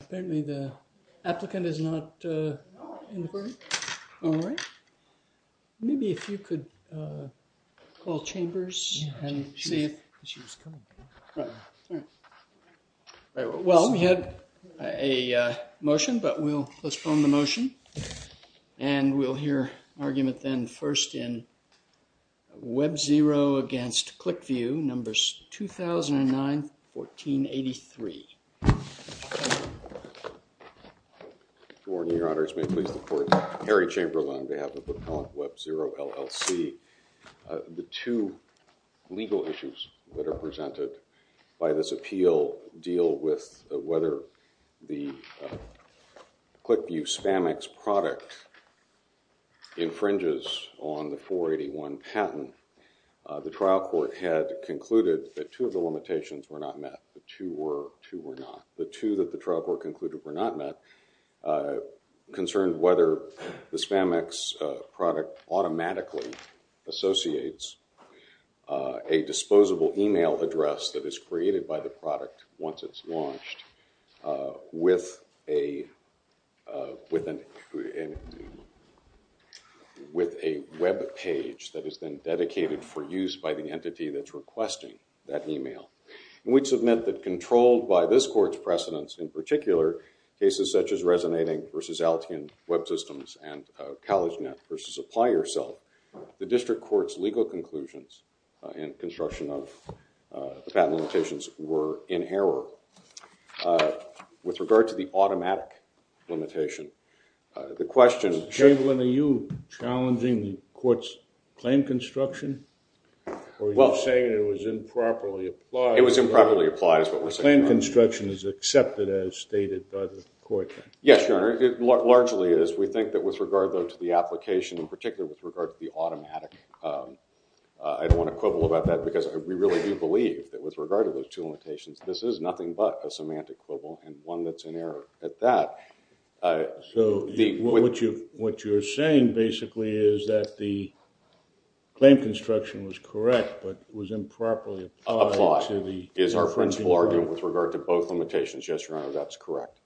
Apparently the applicant is not in the room. All right. Maybe if you could call Chambers and see if she was coming. Right. All right. Well, we had a motion, but we'll postpone the motion and we'll hear argument then first in Webzero against Clicvu, numbers 2009-1483. Gordon, your honors, may it please the court, Harry Chambers on behalf of Webzero LLC, the two legal issues that are presented by this appeal deal with whether the Clicvu Spamex product infringes on the 481 patent. The trial court had concluded that two of the limitations were not met. The two were not. The two that the trial court concluded were not met concerned whether the Spamex product automatically associates a disposable email address that is created by the product once it's launched with a web page that is then dedicated for use by the entity that's requesting that email. And we'd submit that controlled by this court's precedence in particular, cases such as Resonating v. Altium Web Systems and CollegeNet v. Apply Yourself, the district court's legal conclusions in construction of the patent limitations were in error. So with regard to the automatic limitation, the question- Chamberlain, are you challenging the court's claim construction? Or are you saying it was improperly applied? It was improperly applied is what we're saying. The claim construction is accepted as stated by the court. Yes, your honor. It largely is. We think that with regard though to the application, in particular with regard to the automatic, I don't want to quibble about that because we really do believe that with regard to those two limitations, this is nothing but a semantic quibble and one that's in error at that. So what you're saying basically is that the claim construction was correct but was improperly applied to the- Applied is our principle argument with regard to both limitations. Yes, your honor. That's correct.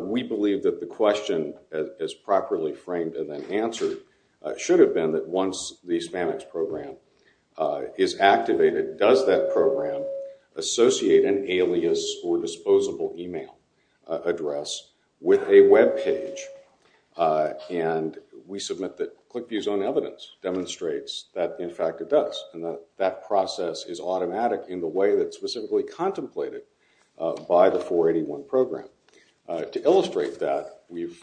We believe that the question as properly framed and then answered should have been that once the Spamex program is activated, does that program associate an alias or disposable email address with a web page? And we submit that ClickView's own evidence demonstrates that in fact it does. And that process is automatic in the way that's specifically contemplated by the 481 program. To illustrate that, we've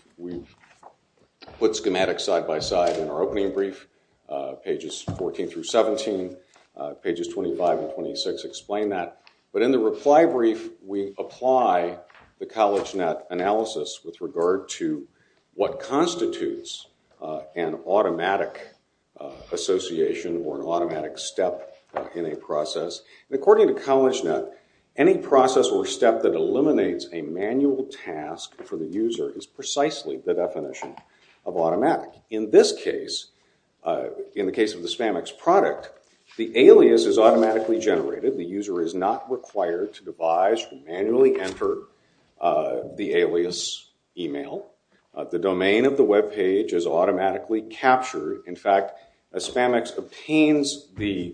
put schematics side by side in our opening brief, pages 14 through 17, pages 25 and 26 explain that. But in the reply brief, we apply the CollegeNet analysis with regard to what constitutes an automatic association or an automatic step in a process. And according to CollegeNet, any process or step that eliminates a manual task for the user is precisely the definition of automatic. In this case, in the case of the Spamex product, the alias is automatically generated. The user is not required to devise to manually enter the alias email. The domain of the web page is automatically captured. In fact, a Spamex obtains the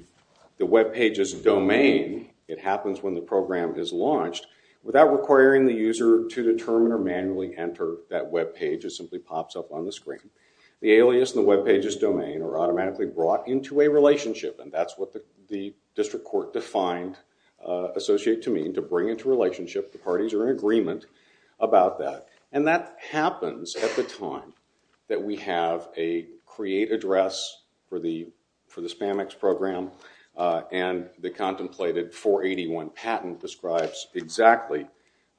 web page's domain, it happens when the program is launched, without requiring the user to determine or manually enter that web page. It simply pops up on the screen. The alias and the web page's domain are automatically brought into a relationship. And that's what the district court defined associate to mean, to bring into relationship the parties are in agreement about that. And that happens at the time that we have a create address for the Spamex program. And the contemplated 481 patent describes exactly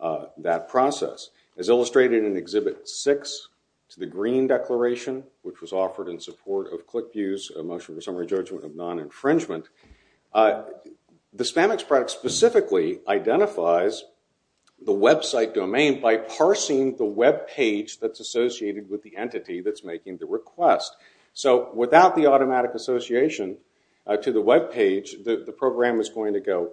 that process. As illustrated in Exhibit 6 to the Green Declaration, which was offered in support of ClickView's motion for summary judgment of non-infringement, the Spamex product specifically identifies the website domain by parsing the web page that's associated with the entity that's automatic association. Without the automatic association to the web page, the program is going to go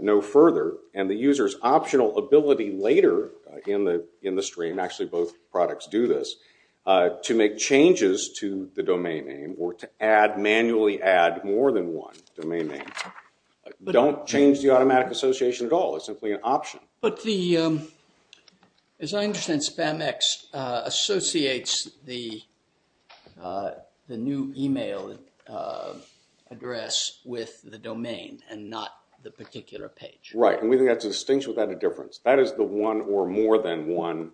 no further. And the user's optional ability later in the stream, actually both products do this, to make changes to the domain name or to manually add more than one domain name. Don't change the automatic association at all. It's simply an option. But the, as I understand, Spamex associates the new email address with the domain and not the particular page. Right. And we think that's a distinction without a difference. That is the one or more than one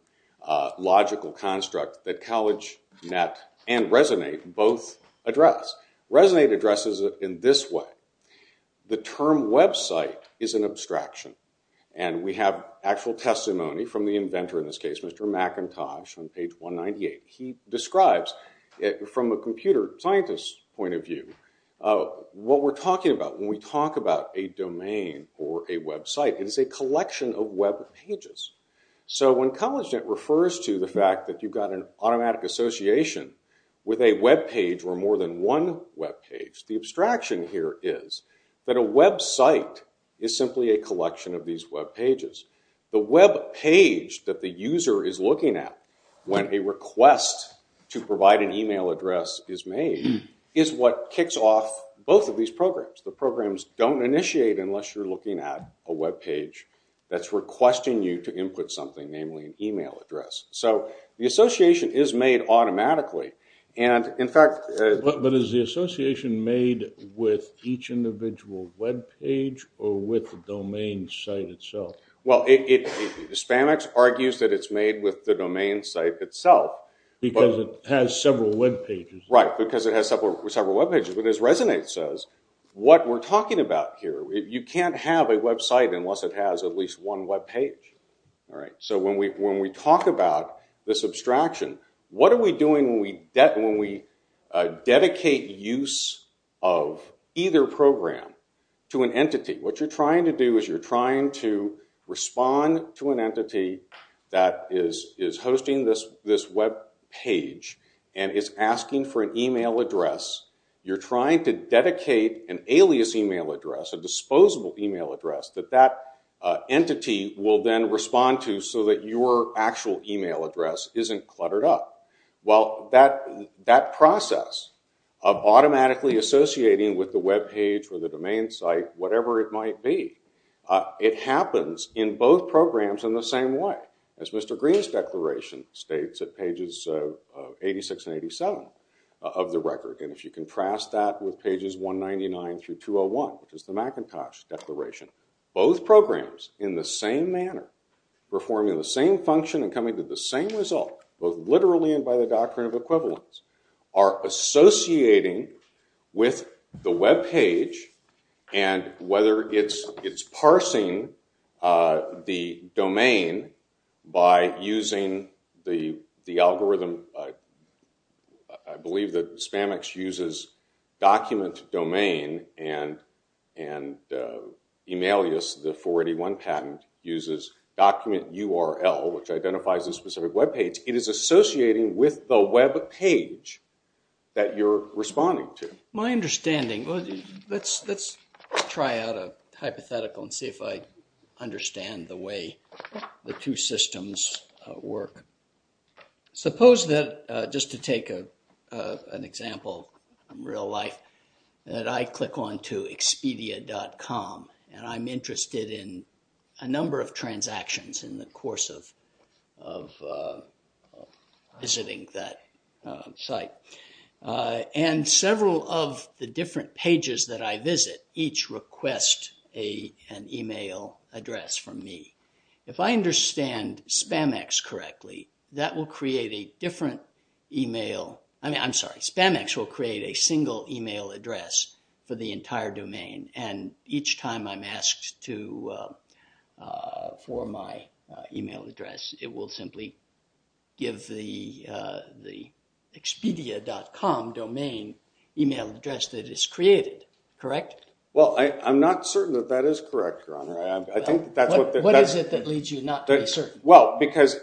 logical construct that CollegeNet and Resonate both address. Resonate addresses it in this way. The term website is an abstraction. And we have actual testimony from the inventor in this case, Mr. McIntosh, on page 198. He describes it from a computer scientist's point of view. What we're talking about when we talk about a domain or a website is a collection of web pages. So when CollegeNet refers to the fact that you've got an automatic association with a web page or more than one web page, the abstraction here is that a website is simply a collection of these web pages. The web page that the user is looking at when a request to provide an email address is made is what kicks off both of these programs. The programs don't initiate unless you're looking at a web page that's requesting you to input something, namely an email. But is the association made with each individual web page or with the domain site itself? Well, Spanx argues that it's made with the domain site itself. Because it has several web pages. Right. Because it has several web pages. But as Resonate says, what we're talking about here, you can't have a website unless it has at least one web page. So when we talk about this abstraction, what are we doing when we dedicate use of either program to an entity? What you're trying to do is you're trying to respond to an entity that is hosting this web page and is asking for an email address. You're trying to dedicate an alias email address, a disposable email address, that that entity will then respond to so that your actual email address isn't cluttered up. Well, that process of automatically associating with the web page or the domain site, whatever it might be, it happens in both programs in the same way, as Mr. Green's declaration states at pages 86 and 87 of the record. And if you contrast that with pages 199 through 201, which is the Macintosh declaration, both programs in the same manner, performing the same function and coming to the same result, both literally and by the doctrine of equivalence, are associating with the web page. And whether it's parsing the domain by using the algorithm, I believe that Spamex uses document domain and Emailius, the 481 patent, uses document URL, which identifies a specific web page, it is associating with the web page that you're responding to. My understanding, let's try out a hypothetical and see if I systems work. Suppose that, just to take an example in real life, that I click on to Expedia.com and I'm interested in a number of transactions in the course of visiting that site. And several of the different pages that I visit each request an email address from me. If I understand Spamex correctly, that will create a different email, I mean, I'm sorry, Spamex will create a single email address for the entire domain. And each time I'm asked to, for my email address, it will simply give the Expedia.com domain email address that is created, correct? Well, I'm not certain that that is correct, your honor. I think that's what is it that leads you not to be certain. Well, because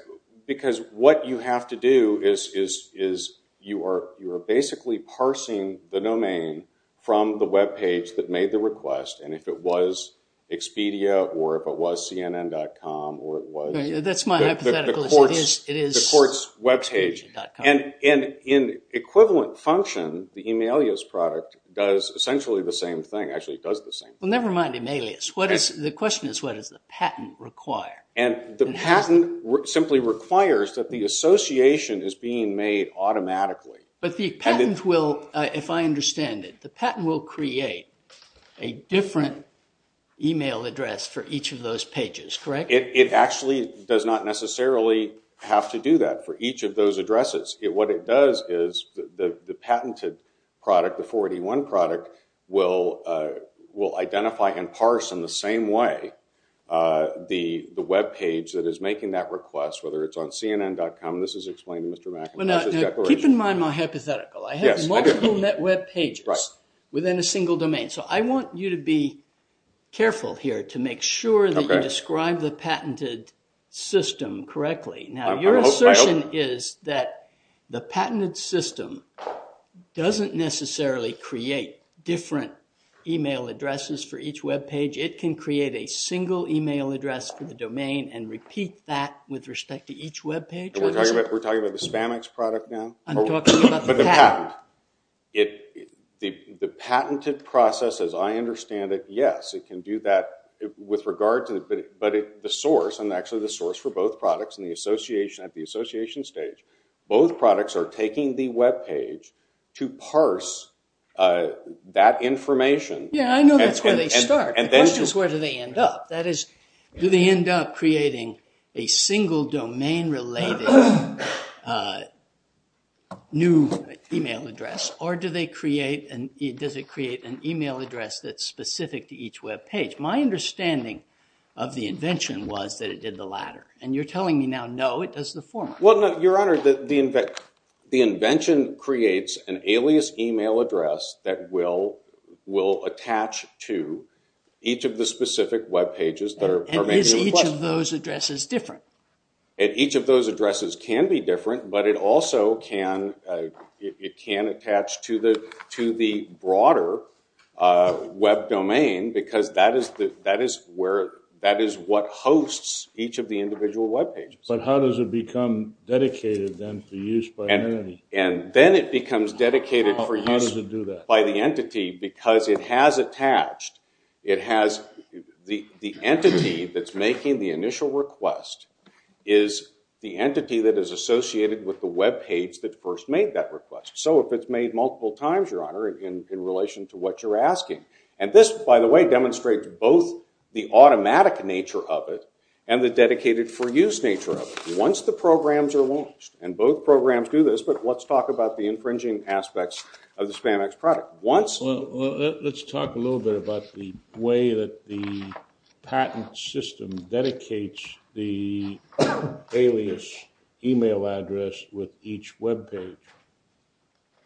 what you have to do is you are basically parsing the domain from the web page that made the request. And if it was Expedia, or if it was CNN.com, or it was the court's web page. And in equivalent function, the Emailius product does essentially the same thing. Actually, it does the same thing. Well, and the patent simply requires that the association is being made automatically. But the patent will, if I understand it, the patent will create a different email address for each of those pages, correct? It actually does not necessarily have to do that for each of those addresses. What it does is the patented product, the 481 product, will identify and parse in the same way the web page that is making that request, whether it's on CNN.com. This is explained in Mr. McIntosh's declaration. Keep in mind my hypothetical. I have multiple net web pages within a single domain. So, I want you to be careful here to make sure that you describe the patented system correctly. Now, your assertion is that the patented system doesn't necessarily create different email addresses for each web page. It can create a single email address for the domain and repeat that with respect to each web page. We're talking about the Spamex product now? I'm talking about the patent. The patented process, as I understand it, yes, it can do that with regard to it, but the source, and actually the source for both products at the association stage, both products are taking the web page to parse that information. Yeah, I know that's where they start. The question is where do they end up? That is, do they end up creating a single domain-related new email address, or does it create an email address that's specific to each web page? My understanding of the invention was that it did the latter, and you're telling me now, no, it does the former. Well, no, your honor, the invention creates an alias email address that will attach to each of the specific web pages that are made. And is each of those addresses different? And each of those addresses can be different, but it also can attach to the broader web domain, because that is what hosts each of the individual web pages. But how does it become dedicated, then, for use by an entity? And then it becomes dedicated for use by the entity, because it has attached, it has the entity that's making the initial request is the entity that is associated with the web page that first made that request. So if it's made multiple times, your honor, in relation to what you're asking. And this, by the way, demonstrates both the automatic nature of it and the dedicated for use nature of it. Once the programs are launched, and both programs do this, but let's talk about the infringing aspects of the Spanx product. Let's talk a little bit about the way that the patent system dedicates the alias email address with each web page.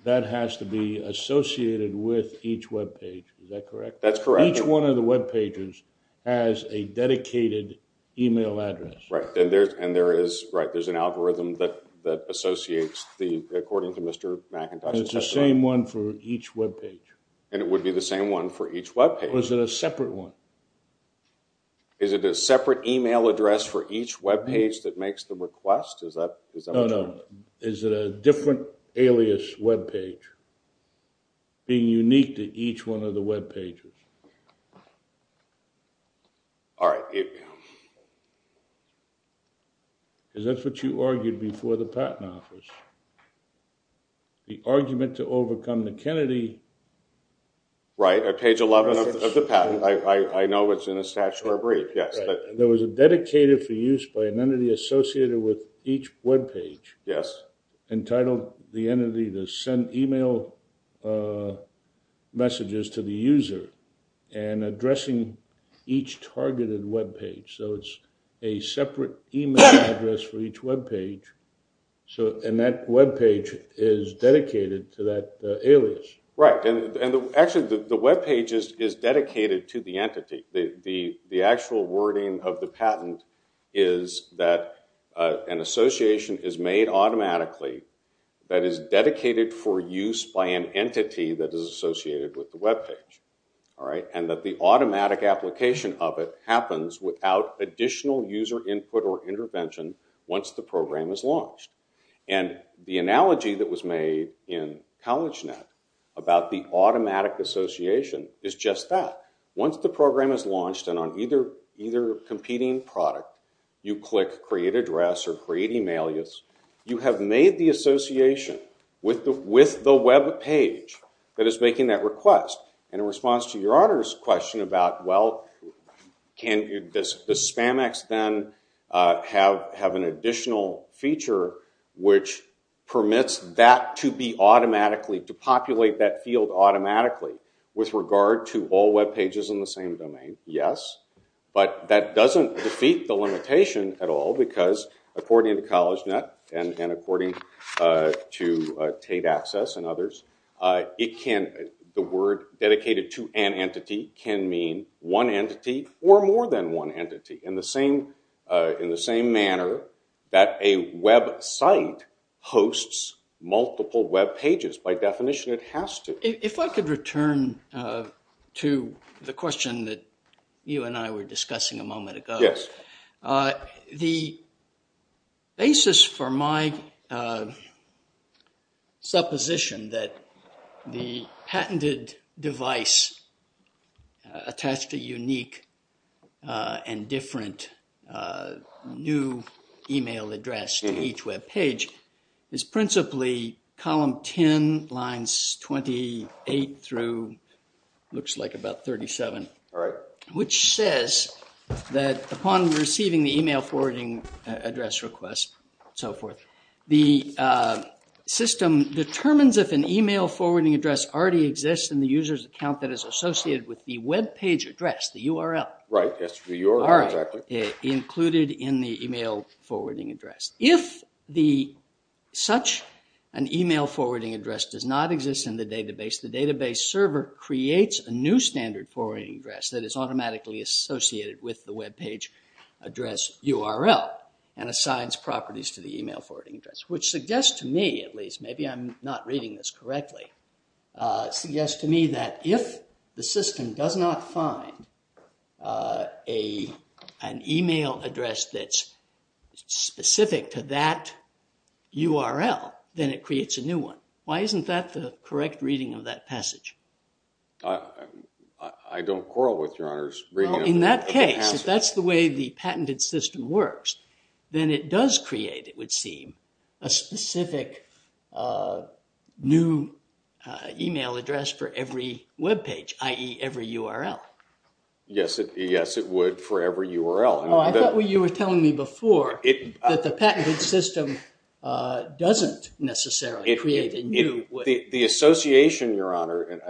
That has to be associated with each web page. Is that correct? That's correct. Each one of the web pages has a dedicated email address. Right. And there is, right, there's an algorithm that associates the, according to Mr. McIntosh's testimony. And it's the same one for each web page. And it would be the same one for each web page. Is it a separate one? Is it a separate email address for each web page that makes the request? Is that true? No, no. Is it a different alias web page being unique to each one of the web pages? All right. Is that what you argued before the patent office? The argument to overcome the Kennedy Right. Page 11 of the patent. I know it's in a statutory brief. Yes. Right. There was a dedicated for use by an entity associated with each web page. Yes. Entitled the entity to send email messages to the user and addressing each targeted web page. So it's a separate email address for each web page. And that web page is dedicated to that alias. Right. And actually the web page is dedicated to the entity. The actual wording of the patent is that an association is made automatically that is dedicated for use by an entity that is associated with the web page. All right. And that the automatic application of it happens without additional user input or intervention once the program is launched. And the analogy that was made in CollegeNet about the automatic association is just that. Once the program is launched and on either competing product, you click create address or create email alias, you have made the association with the web page that is making that request. And in response to your honor's question about, well, can the Spamex then have an additional feature which permits that to be automatically, to populate that field automatically with regard to all web pages in the same domain? Yes. But that doesn't defeat the limitation at all because according to CollegeNet and according to Tate Access and others, the word dedicated to an entity can mean one entity or more than one entity. In the same manner that a web site hosts multiple web pages. By definition, it has to. If I could return to the question that you and I were discussing a moment ago. Yes. The basis for my supposition that the patented device attached to unique and different new email address to each web page is principally column 10, lines 28 through, looks like about 37. All right. Which says that upon receiving the email forwarding address request and so forth, the system determines if an email forwarding address already exists in the user's account that is associated with the web page address, the URL. Right. Yes, the URL. All right. Included in the email forwarding address. If such an email creates a new standard forwarding address that is automatically associated with the web page address URL and assigns properties to the email forwarding address, which suggests to me, at least, maybe I'm not reading this correctly, suggests to me that if the system does not find an email address that's specific to that URL, then it creates a new one. Why isn't that the case? I don't quarrel with your honors. In that case, if that's the way the patented system works, then it does create, it would seem, a specific new email address for every web page, i.e. every URL. Yes, it would for every URL. I thought you were telling me before that the patented system doesn't necessarily create a new... The association, your honor, and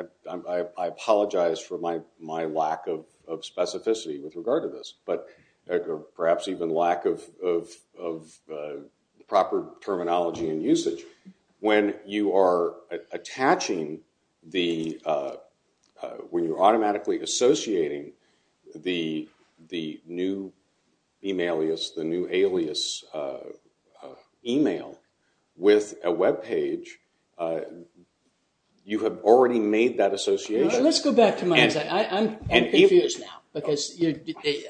I apologize for my lack of specificity with regard to this, but perhaps even lack of proper terminology and usage. When you are attaching the, when you're automatically associating the new email alias, the new alias email with a web page, you have already made that association. Let's go back to my... I'm confused now because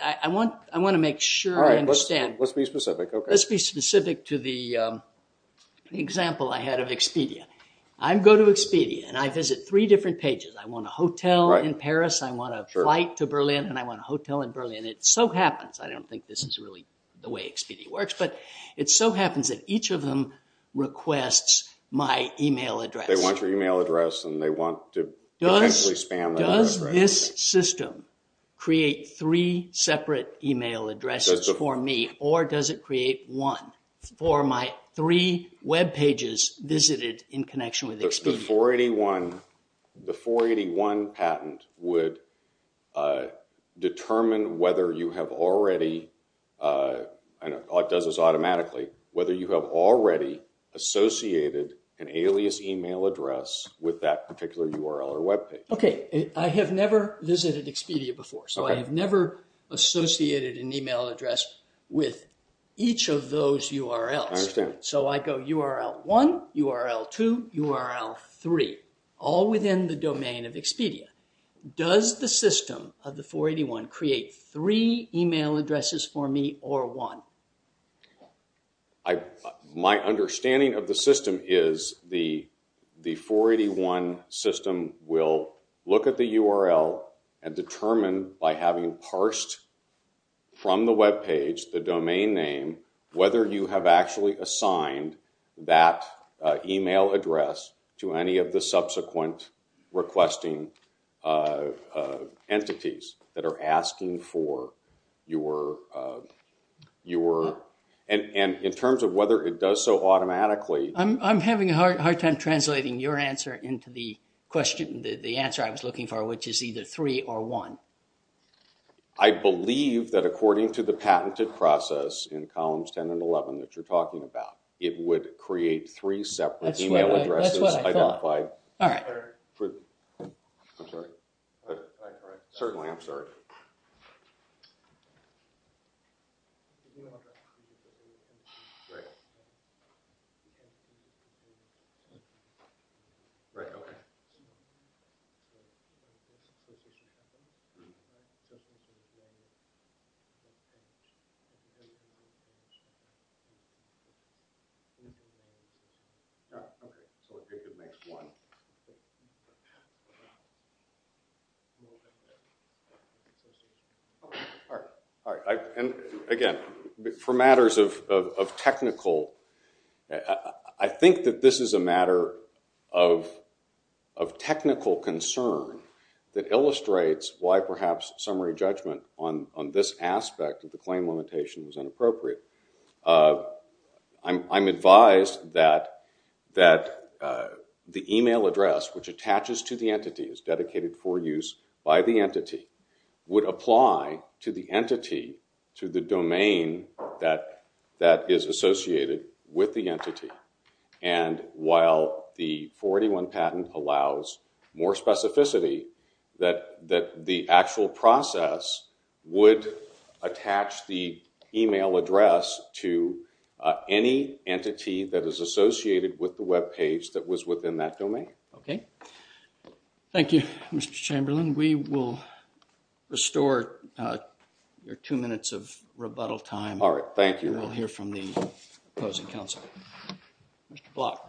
I want to make sure I understand. All right, let's be specific. Okay. Let's be specific to the example I had of Expedia. I go to Expedia and I visit three different pages. I want a hotel in Paris, I want a flight to Berlin, and I want a hotel in Berlin. It so happens, I don't think this is really the way Expedia works, but it so happens that each of them requests my email address. They want your email address and they want to potentially spam that address. Does this system create three separate email addresses for me or does it create one for my three web pages visited in connection with Expedia? 481, the 481 patent would determine whether you have already, I know it does this automatically, whether you have already associated an alias email address with that particular URL or web page. Okay. I have never visited Expedia before, so I have never associated an email address with each of those URLs. So I go URL one, URL two, URL three, all within the domain of Expedia. Does the system of the 481 create three email addresses for me or one? My understanding of the system is the 481 system will look at the URL and determine, by having parsed from the web page, the domain name, whether you have actually assigned that email address to any of the subsequent requesting entities that are asking for your... In terms of whether it does so automatically... I'm having a hard time translating your answer into the answer I was looking for, which is either three or one. I believe that according to the patented process in columns 10 and 11 that you're talking about, it would create three separate email addresses identified... That's what I thought. All right. I'm sorry. Certainly, I'm sorry. Okay. So I think it makes one. All right. Again, for matters of technical... I think that this is a matter of technical concern that illustrates why perhaps summary judgment on this aspect of the claim limitation is inappropriate. I'm advised that the email address which attaches to the entity, is dedicated for use by the entity, would apply to the entity to the domain that is associated with the entity. And while the 41 patent allows more specificity that the actual process would attach the email address to any entity that is associated with the web page that was within that domain. Okay. Thank you, Mr. Chamberlain. We will restore your two minutes of rebuttal time. All right. Thank you. We'll hear from the opposing counsel. Mr. Block.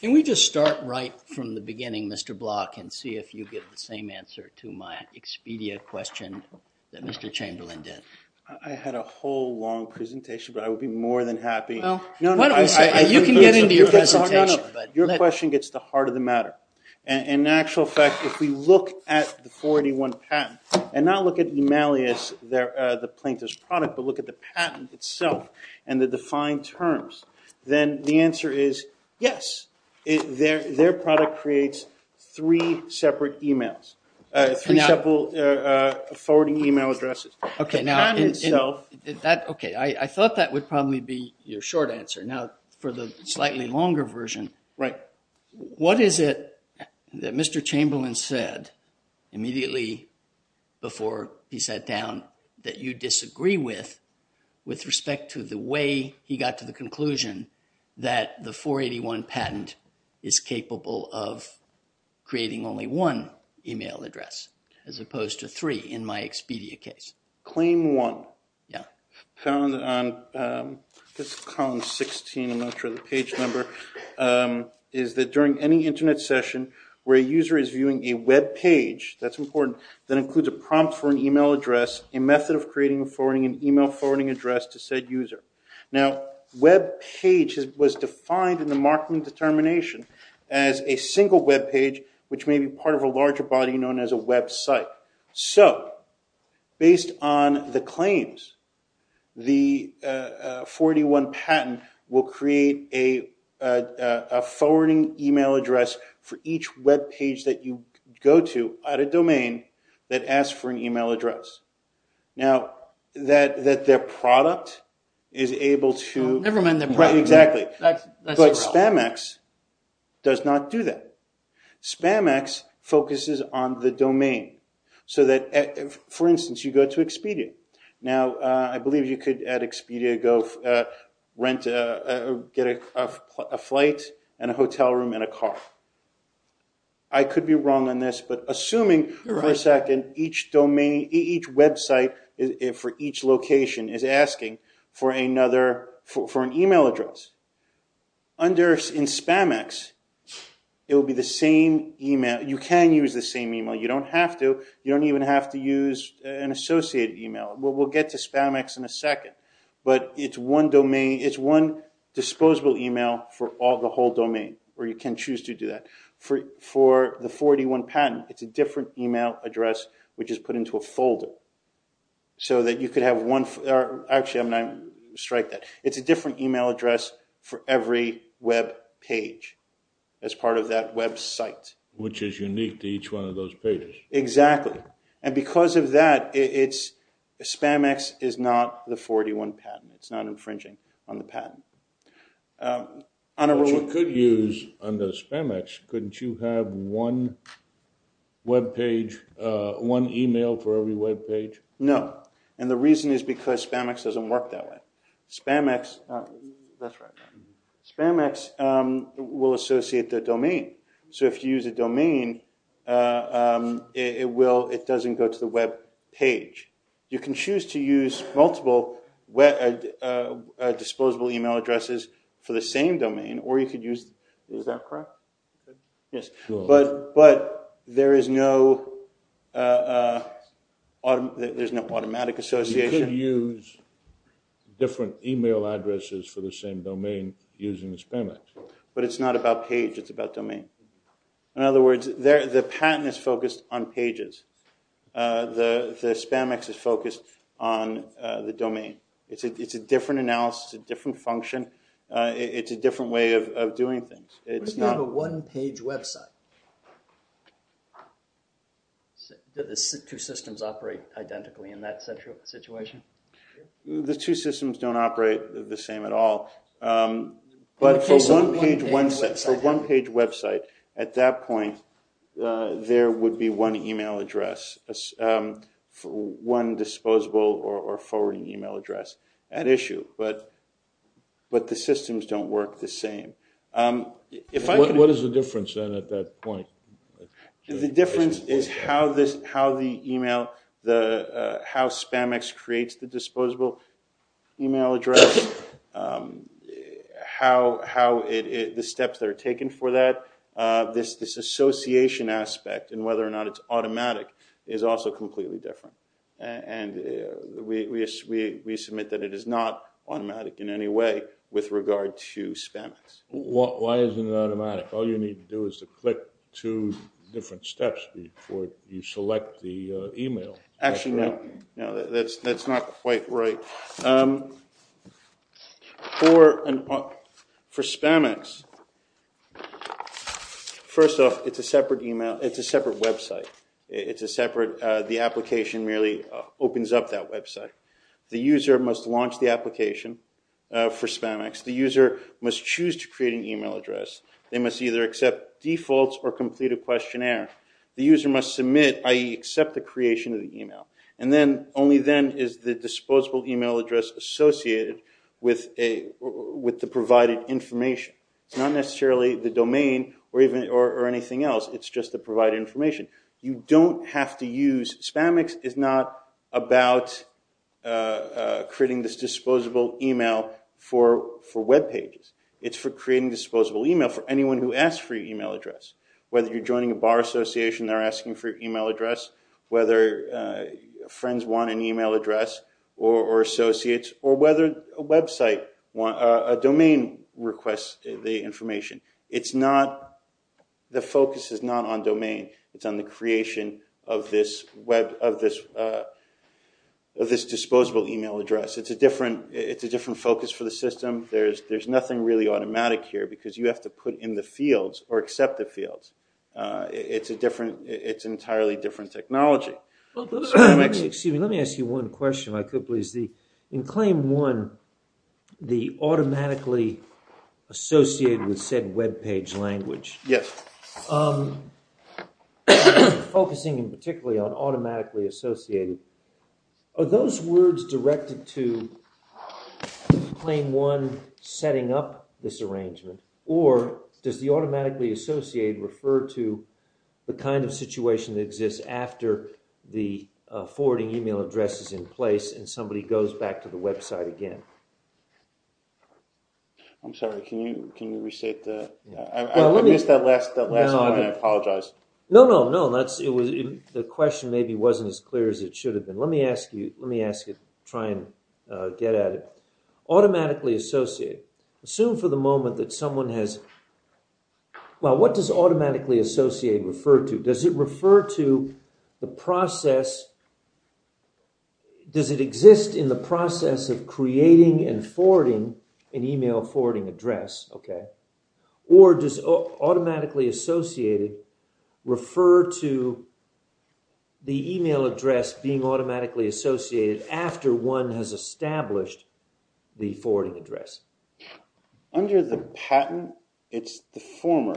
Can we just start right from the beginning, Mr. Block, and see if you get the same answer to my expedia question that Mr. Chamberlain did? I had a whole long presentation, but I would be more than happy... No, you can get into your presentation. Your question gets the heart of the matter. In actual fact, if we look at the 41 patent, and not look at E-Malleus, the plaintiff's product, but look at the patent itself and the defined terms, then the answer is yes. Their product creates three separate emails, three separate forwarding email addresses. Okay. I thought that would probably be your short answer. Now, for the slightly longer version, what is it that Mr. Chamberlain said immediately before he sat down that you disagree with, with respect to the way he got to the conclusion that the 481 patent is capable of creating only one email address, as opposed to in my expedia case? Claim one. Yeah. Found on, I guess, column 16, I'm not sure the page number, is that during any internet session where a user is viewing a web page, that's important, that includes a prompt for an email address, a method of creating and forwarding an email forwarding address to said user. Now, web page was defined in the Markman determination as a single web page, which may be part of a larger body known as a website. So, based on the claims, the 481 patent will create a forwarding email address for each web page that you go to at a domain that asks for an email address. Now, that their product is able to exactly, but SpamX does not do that. SpamX focuses on the domain, so that, for instance, you go to Expedia. Now, I believe you could, at Expedia, go rent, get a flight and a hotel room and a car. I could be wrong on this, but assuming for a second, each domain, each website for each email address, in SpamX, you can use the same email. You don't have to. You don't even have to use an associated email. We'll get to SpamX in a second, but it's one disposable email for the whole domain, or you can choose to do that. For the 481 patent, it's a different email address, which is put into a folder, so that you could have one. Actually, I'm going to strike that. It's a different email address for every web page as part of that website. Which is unique to each one of those pages. Exactly, and because of that, SpamX is not the 481 patent. It's not infringing on the patent. What you could use under SpamX, couldn't you have one email for every web page? No, and the reason is because SpamX doesn't work that way. SpamX will associate the domain, so if you use a domain, it doesn't go to the web page. You can choose to use multiple disposable email addresses for the same domain, or you could use... Is that correct? Yes, but there is no automatic association. You could use different email addresses for the same domain using SpamX. But it's not about page, it's about domain. In other words, the patent is focused on pages. The SpamX is focused on the domain. It's a different analysis, a different function. It's a different way of doing things. What if you have a one-page website? Do the two systems operate identically in that situation? The two systems don't operate the same at all. But for one page website, at that point, there would be one email address, one disposable or forwarding email address at issue. But the systems don't work the same. What is the difference then at that point? The difference is how SpamX creates the disposable email address. How the steps that are taken for that, this association aspect and whether or not it's automatic is also completely different. And we submit that it is not automatic in any way with regard to SpamX. Why isn't it automatic? All you need to do is to click two different steps before you select the email. Actually, no. That's not quite right. For SpamX, first off, it's a separate website. The application merely opens up that website. The user must launch the application for SpamX. The user must choose to create an email address. They must either accept defaults or complete a questionnaire. The user must submit, i.e. accept the creation of the email. Only then is the disposable email address associated with the provided information. It's not necessarily the domain or anything else. It's just the provided information. You don't have to use SpamX. It's not about creating this disposable email for web pages. It's for creating disposable email for anyone who asks for your email address. Whether you're joining a bar association and they're asking for your email address, whether friends want an email address or associates, or whether a website, a domain requests the information. The focus is not on domain. It's on the creation of this disposable email address. It's a different focus for the system. There's nothing really automatic here because you have to put in the fields or accept the fields. It's entirely different technology. Excuse me. Let me ask you one question if I could, please. In claim one, the automatically associated with said web page language. Yes. Focusing in particularly on automatically associated, are those words directed to claim one setting up this arrangement or does the automatically associate refer to the kind of situation that exists after the forwarding email address is in place and somebody goes back to the website again? I'm sorry. Can you restate that? I missed that last line. I apologize. No, no, no. The question maybe wasn't as clear as it should have been. Let me ask you. Let me ask you. Try and get at it. Automatically associated. Assume for the moment that someone has... Well, what does automatically associated refer to? Does it refer to the process? Does it exist in the process of creating and forwarding an email forwarding address? Or does automatically associated refer to the email address being automatically associated after one has established the forwarding address? Under the patent, it's the former.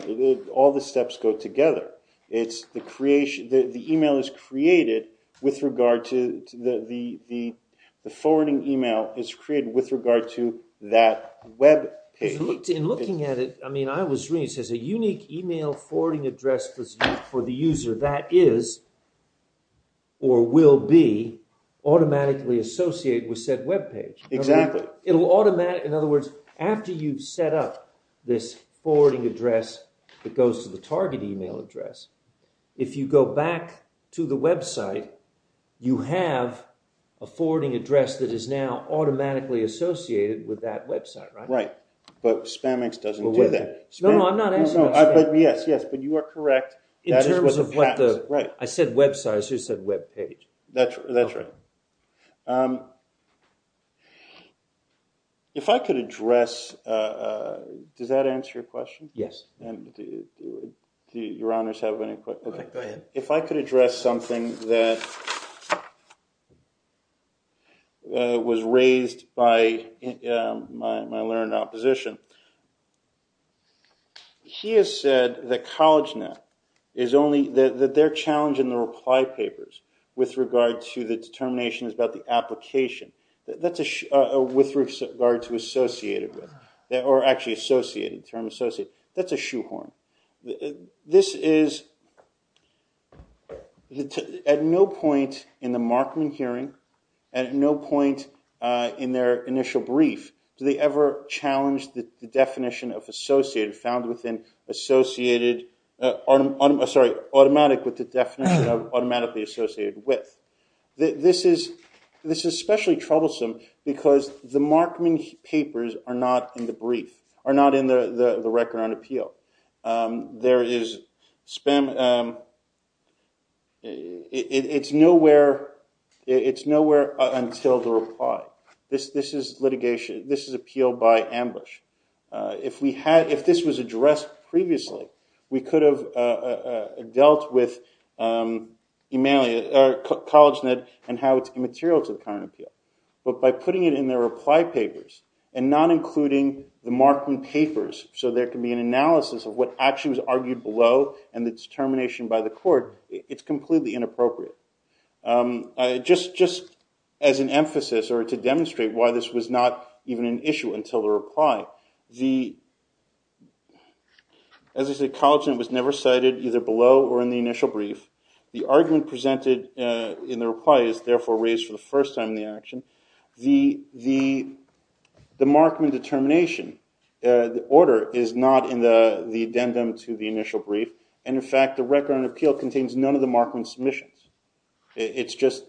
All the steps go together. It's the creation. The email is created with regard to the forwarding email is created with regard to that web page. In looking at it, I mean, I was reading it says a unique email forwarding address for the user. That is or will be automatically associated with said web page. Exactly. It'll automatically... In other words, after you've set up this forwarding address that goes to the target email address, if you go back to the website, you have a forwarding address that is now automatically associated with that website, right? Right. But Spamex doesn't do that. No, I'm not asking about Spamex. Yes, yes. But you are correct. In terms of what the... I said website. I just said web page. That's right. If I could address... Does that answer your question? Yes. And do your honors have any questions? Go ahead. If I could address something that was raised by my learned opposition, he has said that CollegeNet is only... That their challenge in the reply papers with regard to the determination is about the application. That's with regard to associated with that or actually associated, term associated. That's a shoehorn. This is... At no point in the Markman hearing, at no point in their initial brief, do they ever challenge the definition of associated found within associated... Sorry, automatic with the definition of automatically associated with. This is especially troublesome because the Markman papers are not in the brief, are not in the record on appeal. There is Spam... It's nowhere until the reply. This is litigation. This is appeal by ambush. If this was addressed previously, we could have dealt with CollegeNet and how it's immaterial to the current appeal. But by putting it in their reply papers and not including the Markman papers so there can be an analysis of what actually was argued below and the determination by the court, it's completely inappropriate. Just as an emphasis or to demonstrate why this was not even an issue until the reply, as I said, CollegeNet was never cited either below or in the initial brief. The argument presented in the reply is therefore raised for the first time in the action. The Markman determination order is not in the addendum to the initial brief. And in fact, the record on appeal contains none of the Markman submissions. It's just...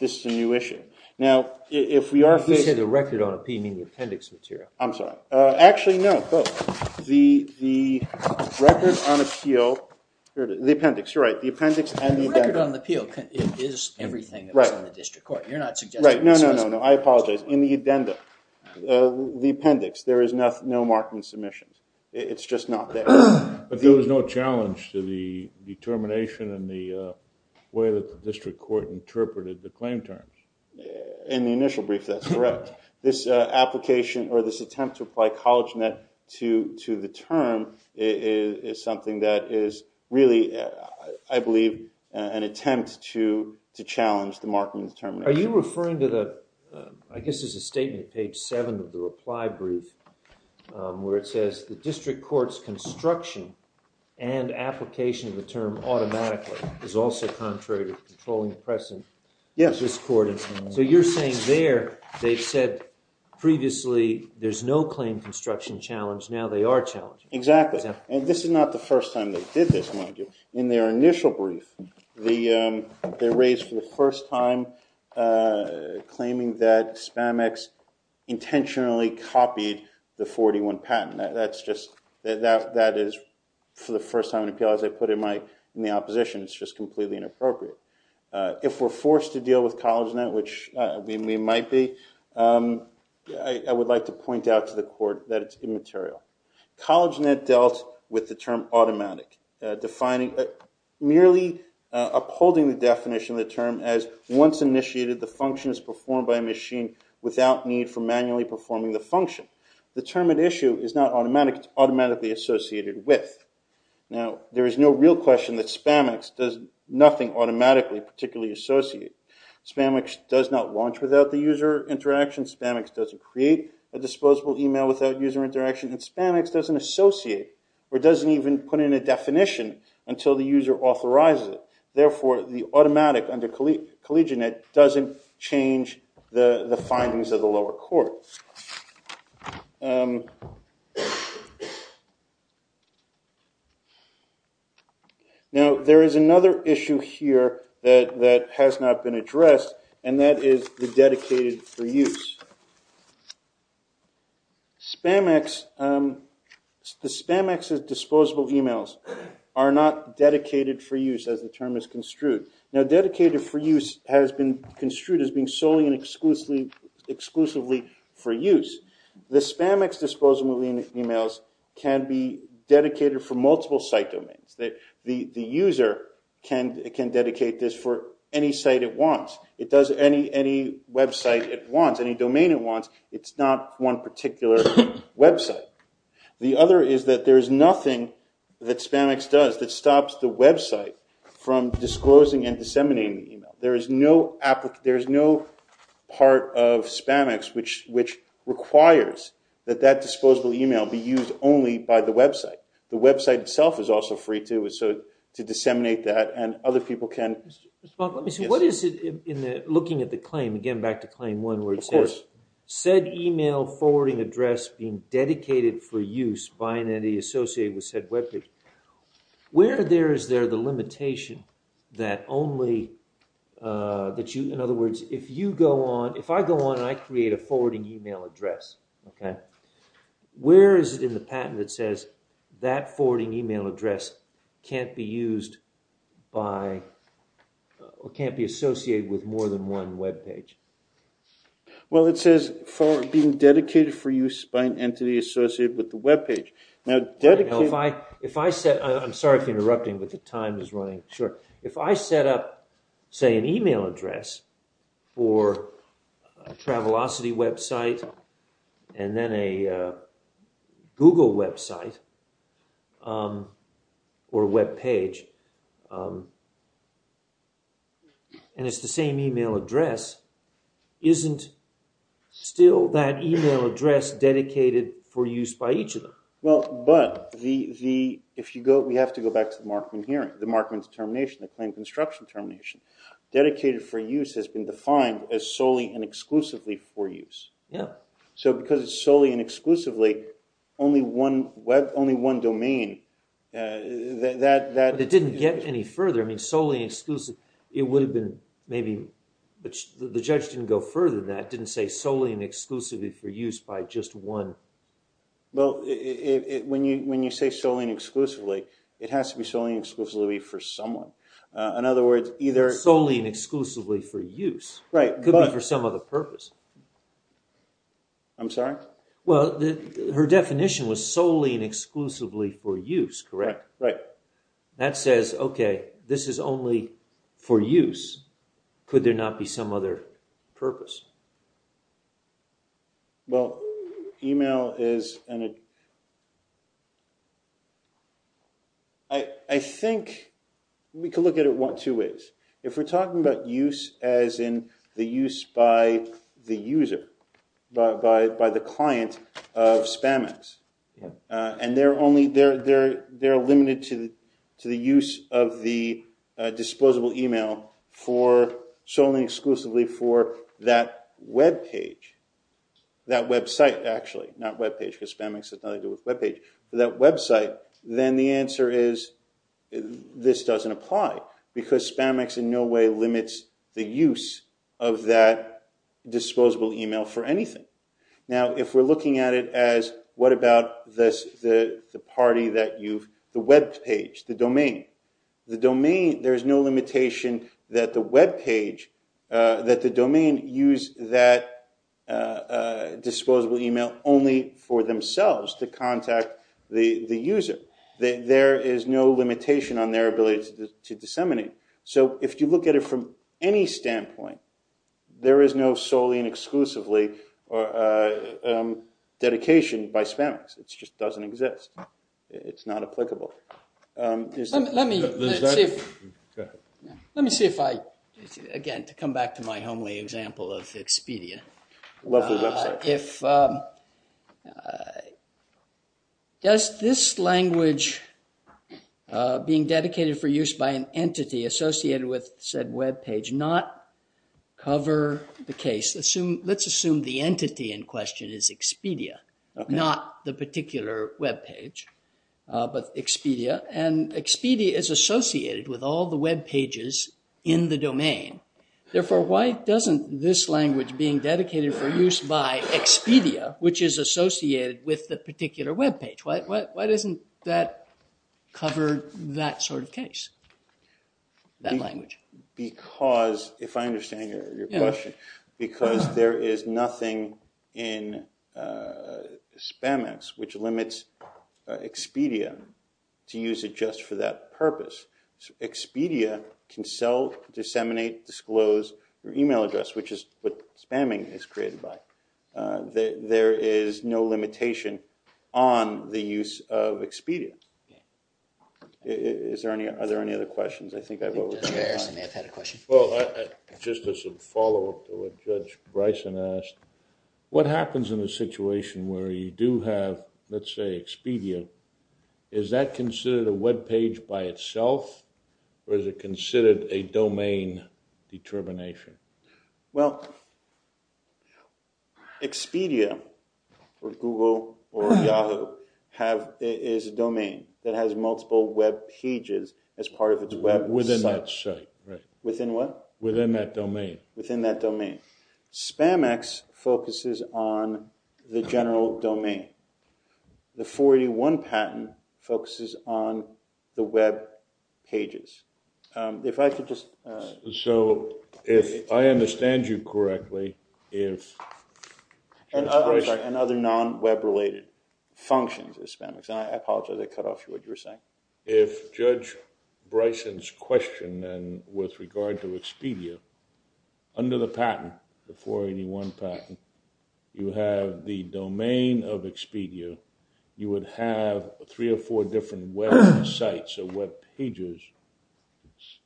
This is a new issue. Now, if we are... If you say the record on appeal, you mean the appendix material. I'm sorry. Actually, no. The record on appeal... The appendix, you're right. The appendix and the addendum. The record on the appeal is everything that's on the district court. You're not suggesting... Right. No, no, no, no. I apologize. In the addendum, the appendix, there is no Markman submissions. It's just not there. But there was no challenge to the determination and the way that the district court interpreted the claim terms. In the initial brief, that's correct. This application or this attempt to apply CollegeNet to the term is something that is really, I believe, an attempt to challenge the Markman determination. Are you referring to the... I guess it's a statement, page seven of the reply brief, where it says, the district court's construction and application of the term automatically is also contrary to the controlling precedent of this court. So you're saying there, they've said previously, there's no claim construction challenge. Now they are challenging. Exactly. And this is not the first time they did this, mind you. In their initial brief, they raised for the first time claiming that Spamex intentionally copied the 41 patent. That's just, that is, for the first time in appeal, as I put in the opposition, it's just completely inappropriate. If we're forced to deal with CollegeNet, which we might be, I would like to point out to the court that it's immaterial. CollegeNet dealt with the term automatic, defining, merely upholding the definition of the term as once initiated, the function is performed by a machine without need for manually performing the function. The term at issue is not automatic, it's automatically associated with. Now, there is no real question that Spamex does nothing automatically particularly associate. Spamex does not launch without the user interaction. Spamex doesn't create a disposable email without user interaction. And Spamex doesn't associate or doesn't even put in a definition until the user authorizes it. Therefore, the automatic under CollegeNet doesn't change the findings of the lower court. Now, there is another issue here that has not been addressed, and that is the dedicated for use. Spamex, the Spamex's disposable emails are not dedicated for use as the term is construed. Now, dedicated for use has been construed as being solely and exclusively for use. The Spamex disposable emails can be dedicated for multiple site domains. The user can dedicate this for any site it wants. It does any website it wants, any domain it wants. It's not one particular website. The other is that there is nothing that Spamex does that stops the website from disclosing and disseminating the email. There is no part of Spamex which requires that that disposable email be used only by the website. The website itself is also free to disseminate that, and other people can. Mr. Spock, let me see. What is it in looking at the claim? Again, back to claim one where it says said email forwarding address being dedicated for use by an entity associated with said webpage. Where there is there the limitation that only that you, in other words, if you go on, if I go on and I create a forwarding email address, okay, where is it in the patent that says that forwarding email address can't be used by or can't be associated with more than one webpage? Well, it says for being dedicated for use by an entity associated with the webpage. Now, if I set, I'm sorry for interrupting, but the time is running short. If I set up, say, an email address for a Travelocity website and then a Google website or webpage, and it's the same email address, isn't still that email address dedicated for use by each of them? Well, but the, if you go, we have to go back to the Markman hearing, the Markman termination, the claim construction termination, dedicated for use has been defined as solely and exclusively for use. Yeah. So, because it's solely and exclusively only one web, only one domain, that- It didn't get any further. I mean, solely and exclusively, it would have been maybe, but the judge didn't go further than that, didn't say solely and exclusively for use by just one. Well, when you say solely and exclusively, it has to be solely and exclusively for someone. In other words, either- Solely and exclusively for use. Right, but- Could be for some other purpose. I'm sorry? Well, her definition was solely and exclusively for use, correct? Right. That says, okay, this is only for use. Could there not be some other purpose? Well, email is an- I think we could look at it two ways. If we're talking about use as in the use by the user, by the client of SpamX, and they're only, they're limited to the use of the disposable email for solely and exclusively for that webpage, that website, actually. Not webpage, because SpamX has nothing to do with webpage, but that website. Then the answer is, this doesn't apply, because SpamX in no way limits the use of that disposable email for anything. Now, if we're looking at it as, what about the party that you've- The webpage, the domain. The domain, there's no limitation that the webpage, that the domain use that disposable email only for themselves to contact the user. There is no limitation on their ability to disseminate. So, if you look at it from any standpoint, there is no solely and exclusively dedication by SpamX. It just doesn't exist. It's not applicable. Let me see if I, again, to come back to my homely example of Expedia. Lovely website. If, does this language being dedicated for use by an entity associated with said webpage not cover the case? Let's assume the entity in question is Expedia, not the particular webpage. But Expedia, and Expedia is associated with all the webpages in the domain. Therefore, why doesn't this language being dedicated for use by Expedia, which is associated with the particular webpage, why doesn't that cover that sort of case? That language. Because, if I understand your question, because there is nothing in SpamX which limits Expedia to use it just for that purpose. Expedia can sell, disseminate, disclose your email address, which is what spamming is created by. There is no limitation on the use of Expedia. Is there any, are there any other questions? I think I've over. I think Judge Harrison may have had a question. Well, just as a follow-up to what Judge Bryson asked, what happens in a situation where you have, let's say, Expedia, is that considered a webpage by itself, or is it considered a domain determination? Well, Expedia, or Google, or Yahoo, is a domain that has multiple webpages as part of its website. Within that site, right. Within what? Within that domain. Within that domain. SpamX focuses on the general domain. The 481 patent focuses on the webpages. If I could just. So, if I understand you correctly, if. And other non-webrelated functions of SpamX. I apologize, I cut off what you were saying. If Judge Bryson's question, then, with regard to Expedia, under the patent, the 481 patent, you have the domain of Expedia. You would have three or four different websites or webpages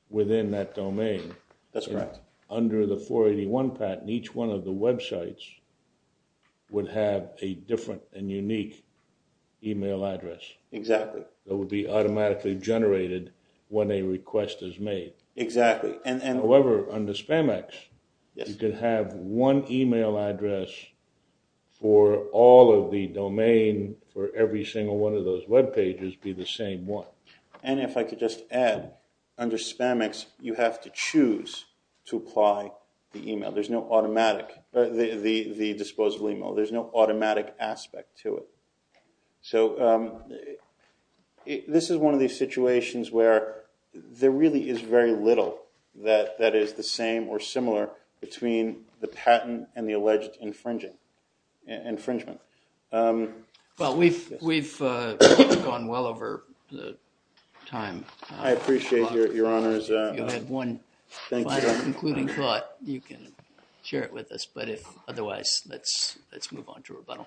within that domain. That's correct. Under the 481 patent, each one of the websites would have a different and unique email address. Exactly. That would be automatically generated when a request is made. Exactly. However, under SpamX, you could have one email address for all of the domain for every single one of those webpages be the same one. And if I could just add, under SpamX, you have to choose to apply the email. There's no automatic, the disposable email. There's no automatic aspect to it. So, this is one of these situations where there really is very little that is the same or similar between the patent and the alleged infringement. Well, we've gone well over time. I appreciate your honors. You had one final concluding thought. You can share it with us. But if otherwise, let's move on to rebuttal.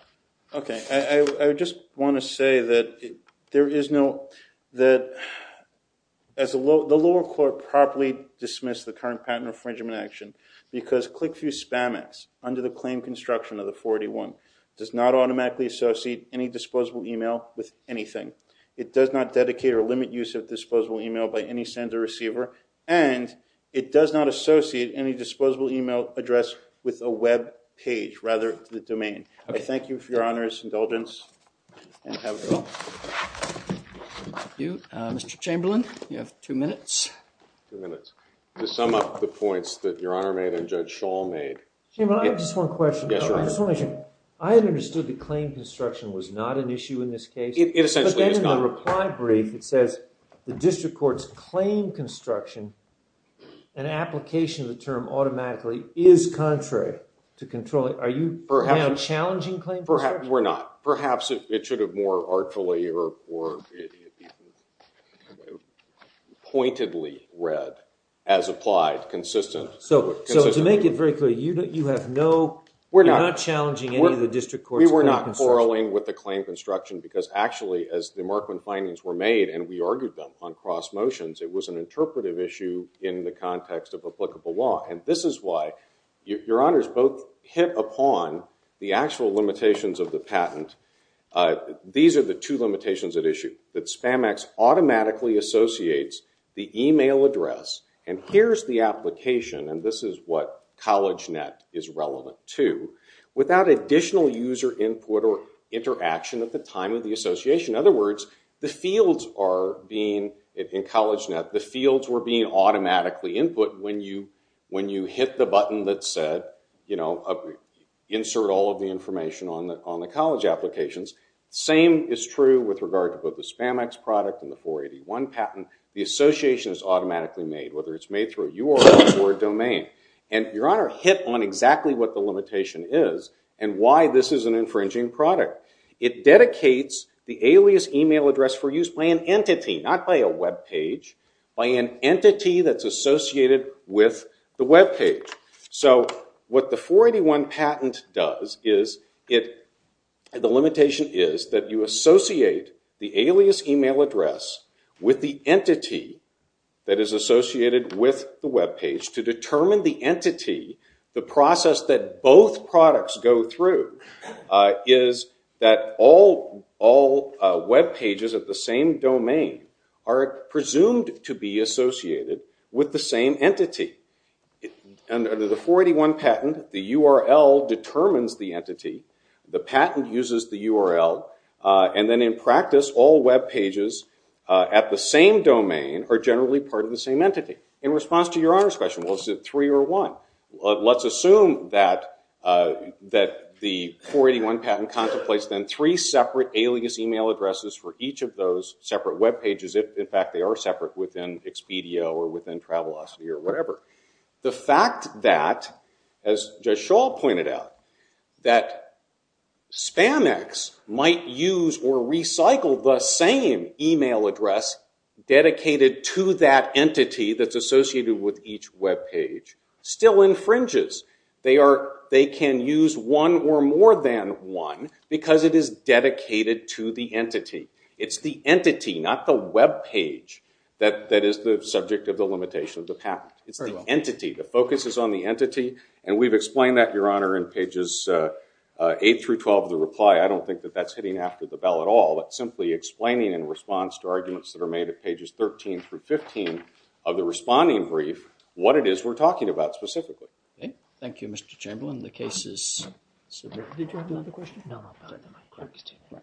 Okay. I just want to say that there is no, that the lower court properly dismissed the current patent infringement action because ClickThru SpamX, under the claim construction of the 481, does not automatically associate any disposable email with anything. It does not dedicate or limit use of disposable email by any sender or receiver. And it does not associate any disposable email address with a webpage, rather the domain. Thank you for your honors, indulgence, and have a good one. Thank you. Mr. Chamberlain, you have two minutes. Two minutes. To sum up the points that Your Honor made and Judge Schall made. Chamberlain, I have just one question. Yes, Your Honor. I just want to make sure. I understood the claim construction was not an issue in this case. It essentially is not. But then in the reply brief, it says the district court's claim construction and application of the term automatically is contrary to controlling. Are you challenging claim construction? We're not. Perhaps it should have more artfully or pointedly read as applied, consistent. So to make it very clear, you have no, you're not challenging any of the district court's claim construction. We were not quarreling with the claim construction because actually, as the Markman findings were made, and we argued them on cross motions, it was an interpretive issue in the context of applicable law. And this is why, Your Honors, both hit upon the actual limitations of the patent. These are the two limitations at issue. That Spamex automatically associates the email address, and here's the application, and this is what CollegeNet is relevant to, without additional user input or interaction at the time of the association. In other words, the fields are being, in CollegeNet, the fields were being automatically input when you hit the button that said insert all of the information on the college applications. Same is true with regard to both the Spamex product and the 481 patent. The association is automatically made, whether it's made through a URL or domain. And Your Honor hit on exactly what the limitation is and why this is an infringing product. It dedicates the alias email address for use by an entity, not by a web page, by an entity that's associated with the web page. So what the 481 patent does is, the limitation is that you associate the alias email address with the entity that is associated with the web page to determine the entity, the process that both products go through, is that all web pages of the same domain are presumed to be associated with the same entity. Under the 481 patent, the URL determines the entity, the patent uses the URL, and then in practice, all web pages at the same domain are generally part of the same entity. In response to Your Honor's question, was it three or one? Let's assume that the 481 patent contemplates then three separate alias email addresses for each of those separate web pages, if in fact they are separate within Expedia or within Travelocity or whatever. The fact that, as Judge Schall pointed out, that Spamex might use or recycle the same email address dedicated to that entity that's associated with each web page still infringes. They can use one or more than one because it is dedicated to the entity. It's the entity, not the web page, that is the subject of the limitation of the patent. It's the entity. The focus is on the entity, and we've explained that, Your Honor, in pages 8 through 12 of the reply. I don't think that that's hitting after the bell at all. It's simply explaining in response to arguments that are made at pages 13 through 15 of the responding brief what it is we're talking about specifically. Thank you, Mr. Chamberlain. The case is submitted. Did you have another question? No, no.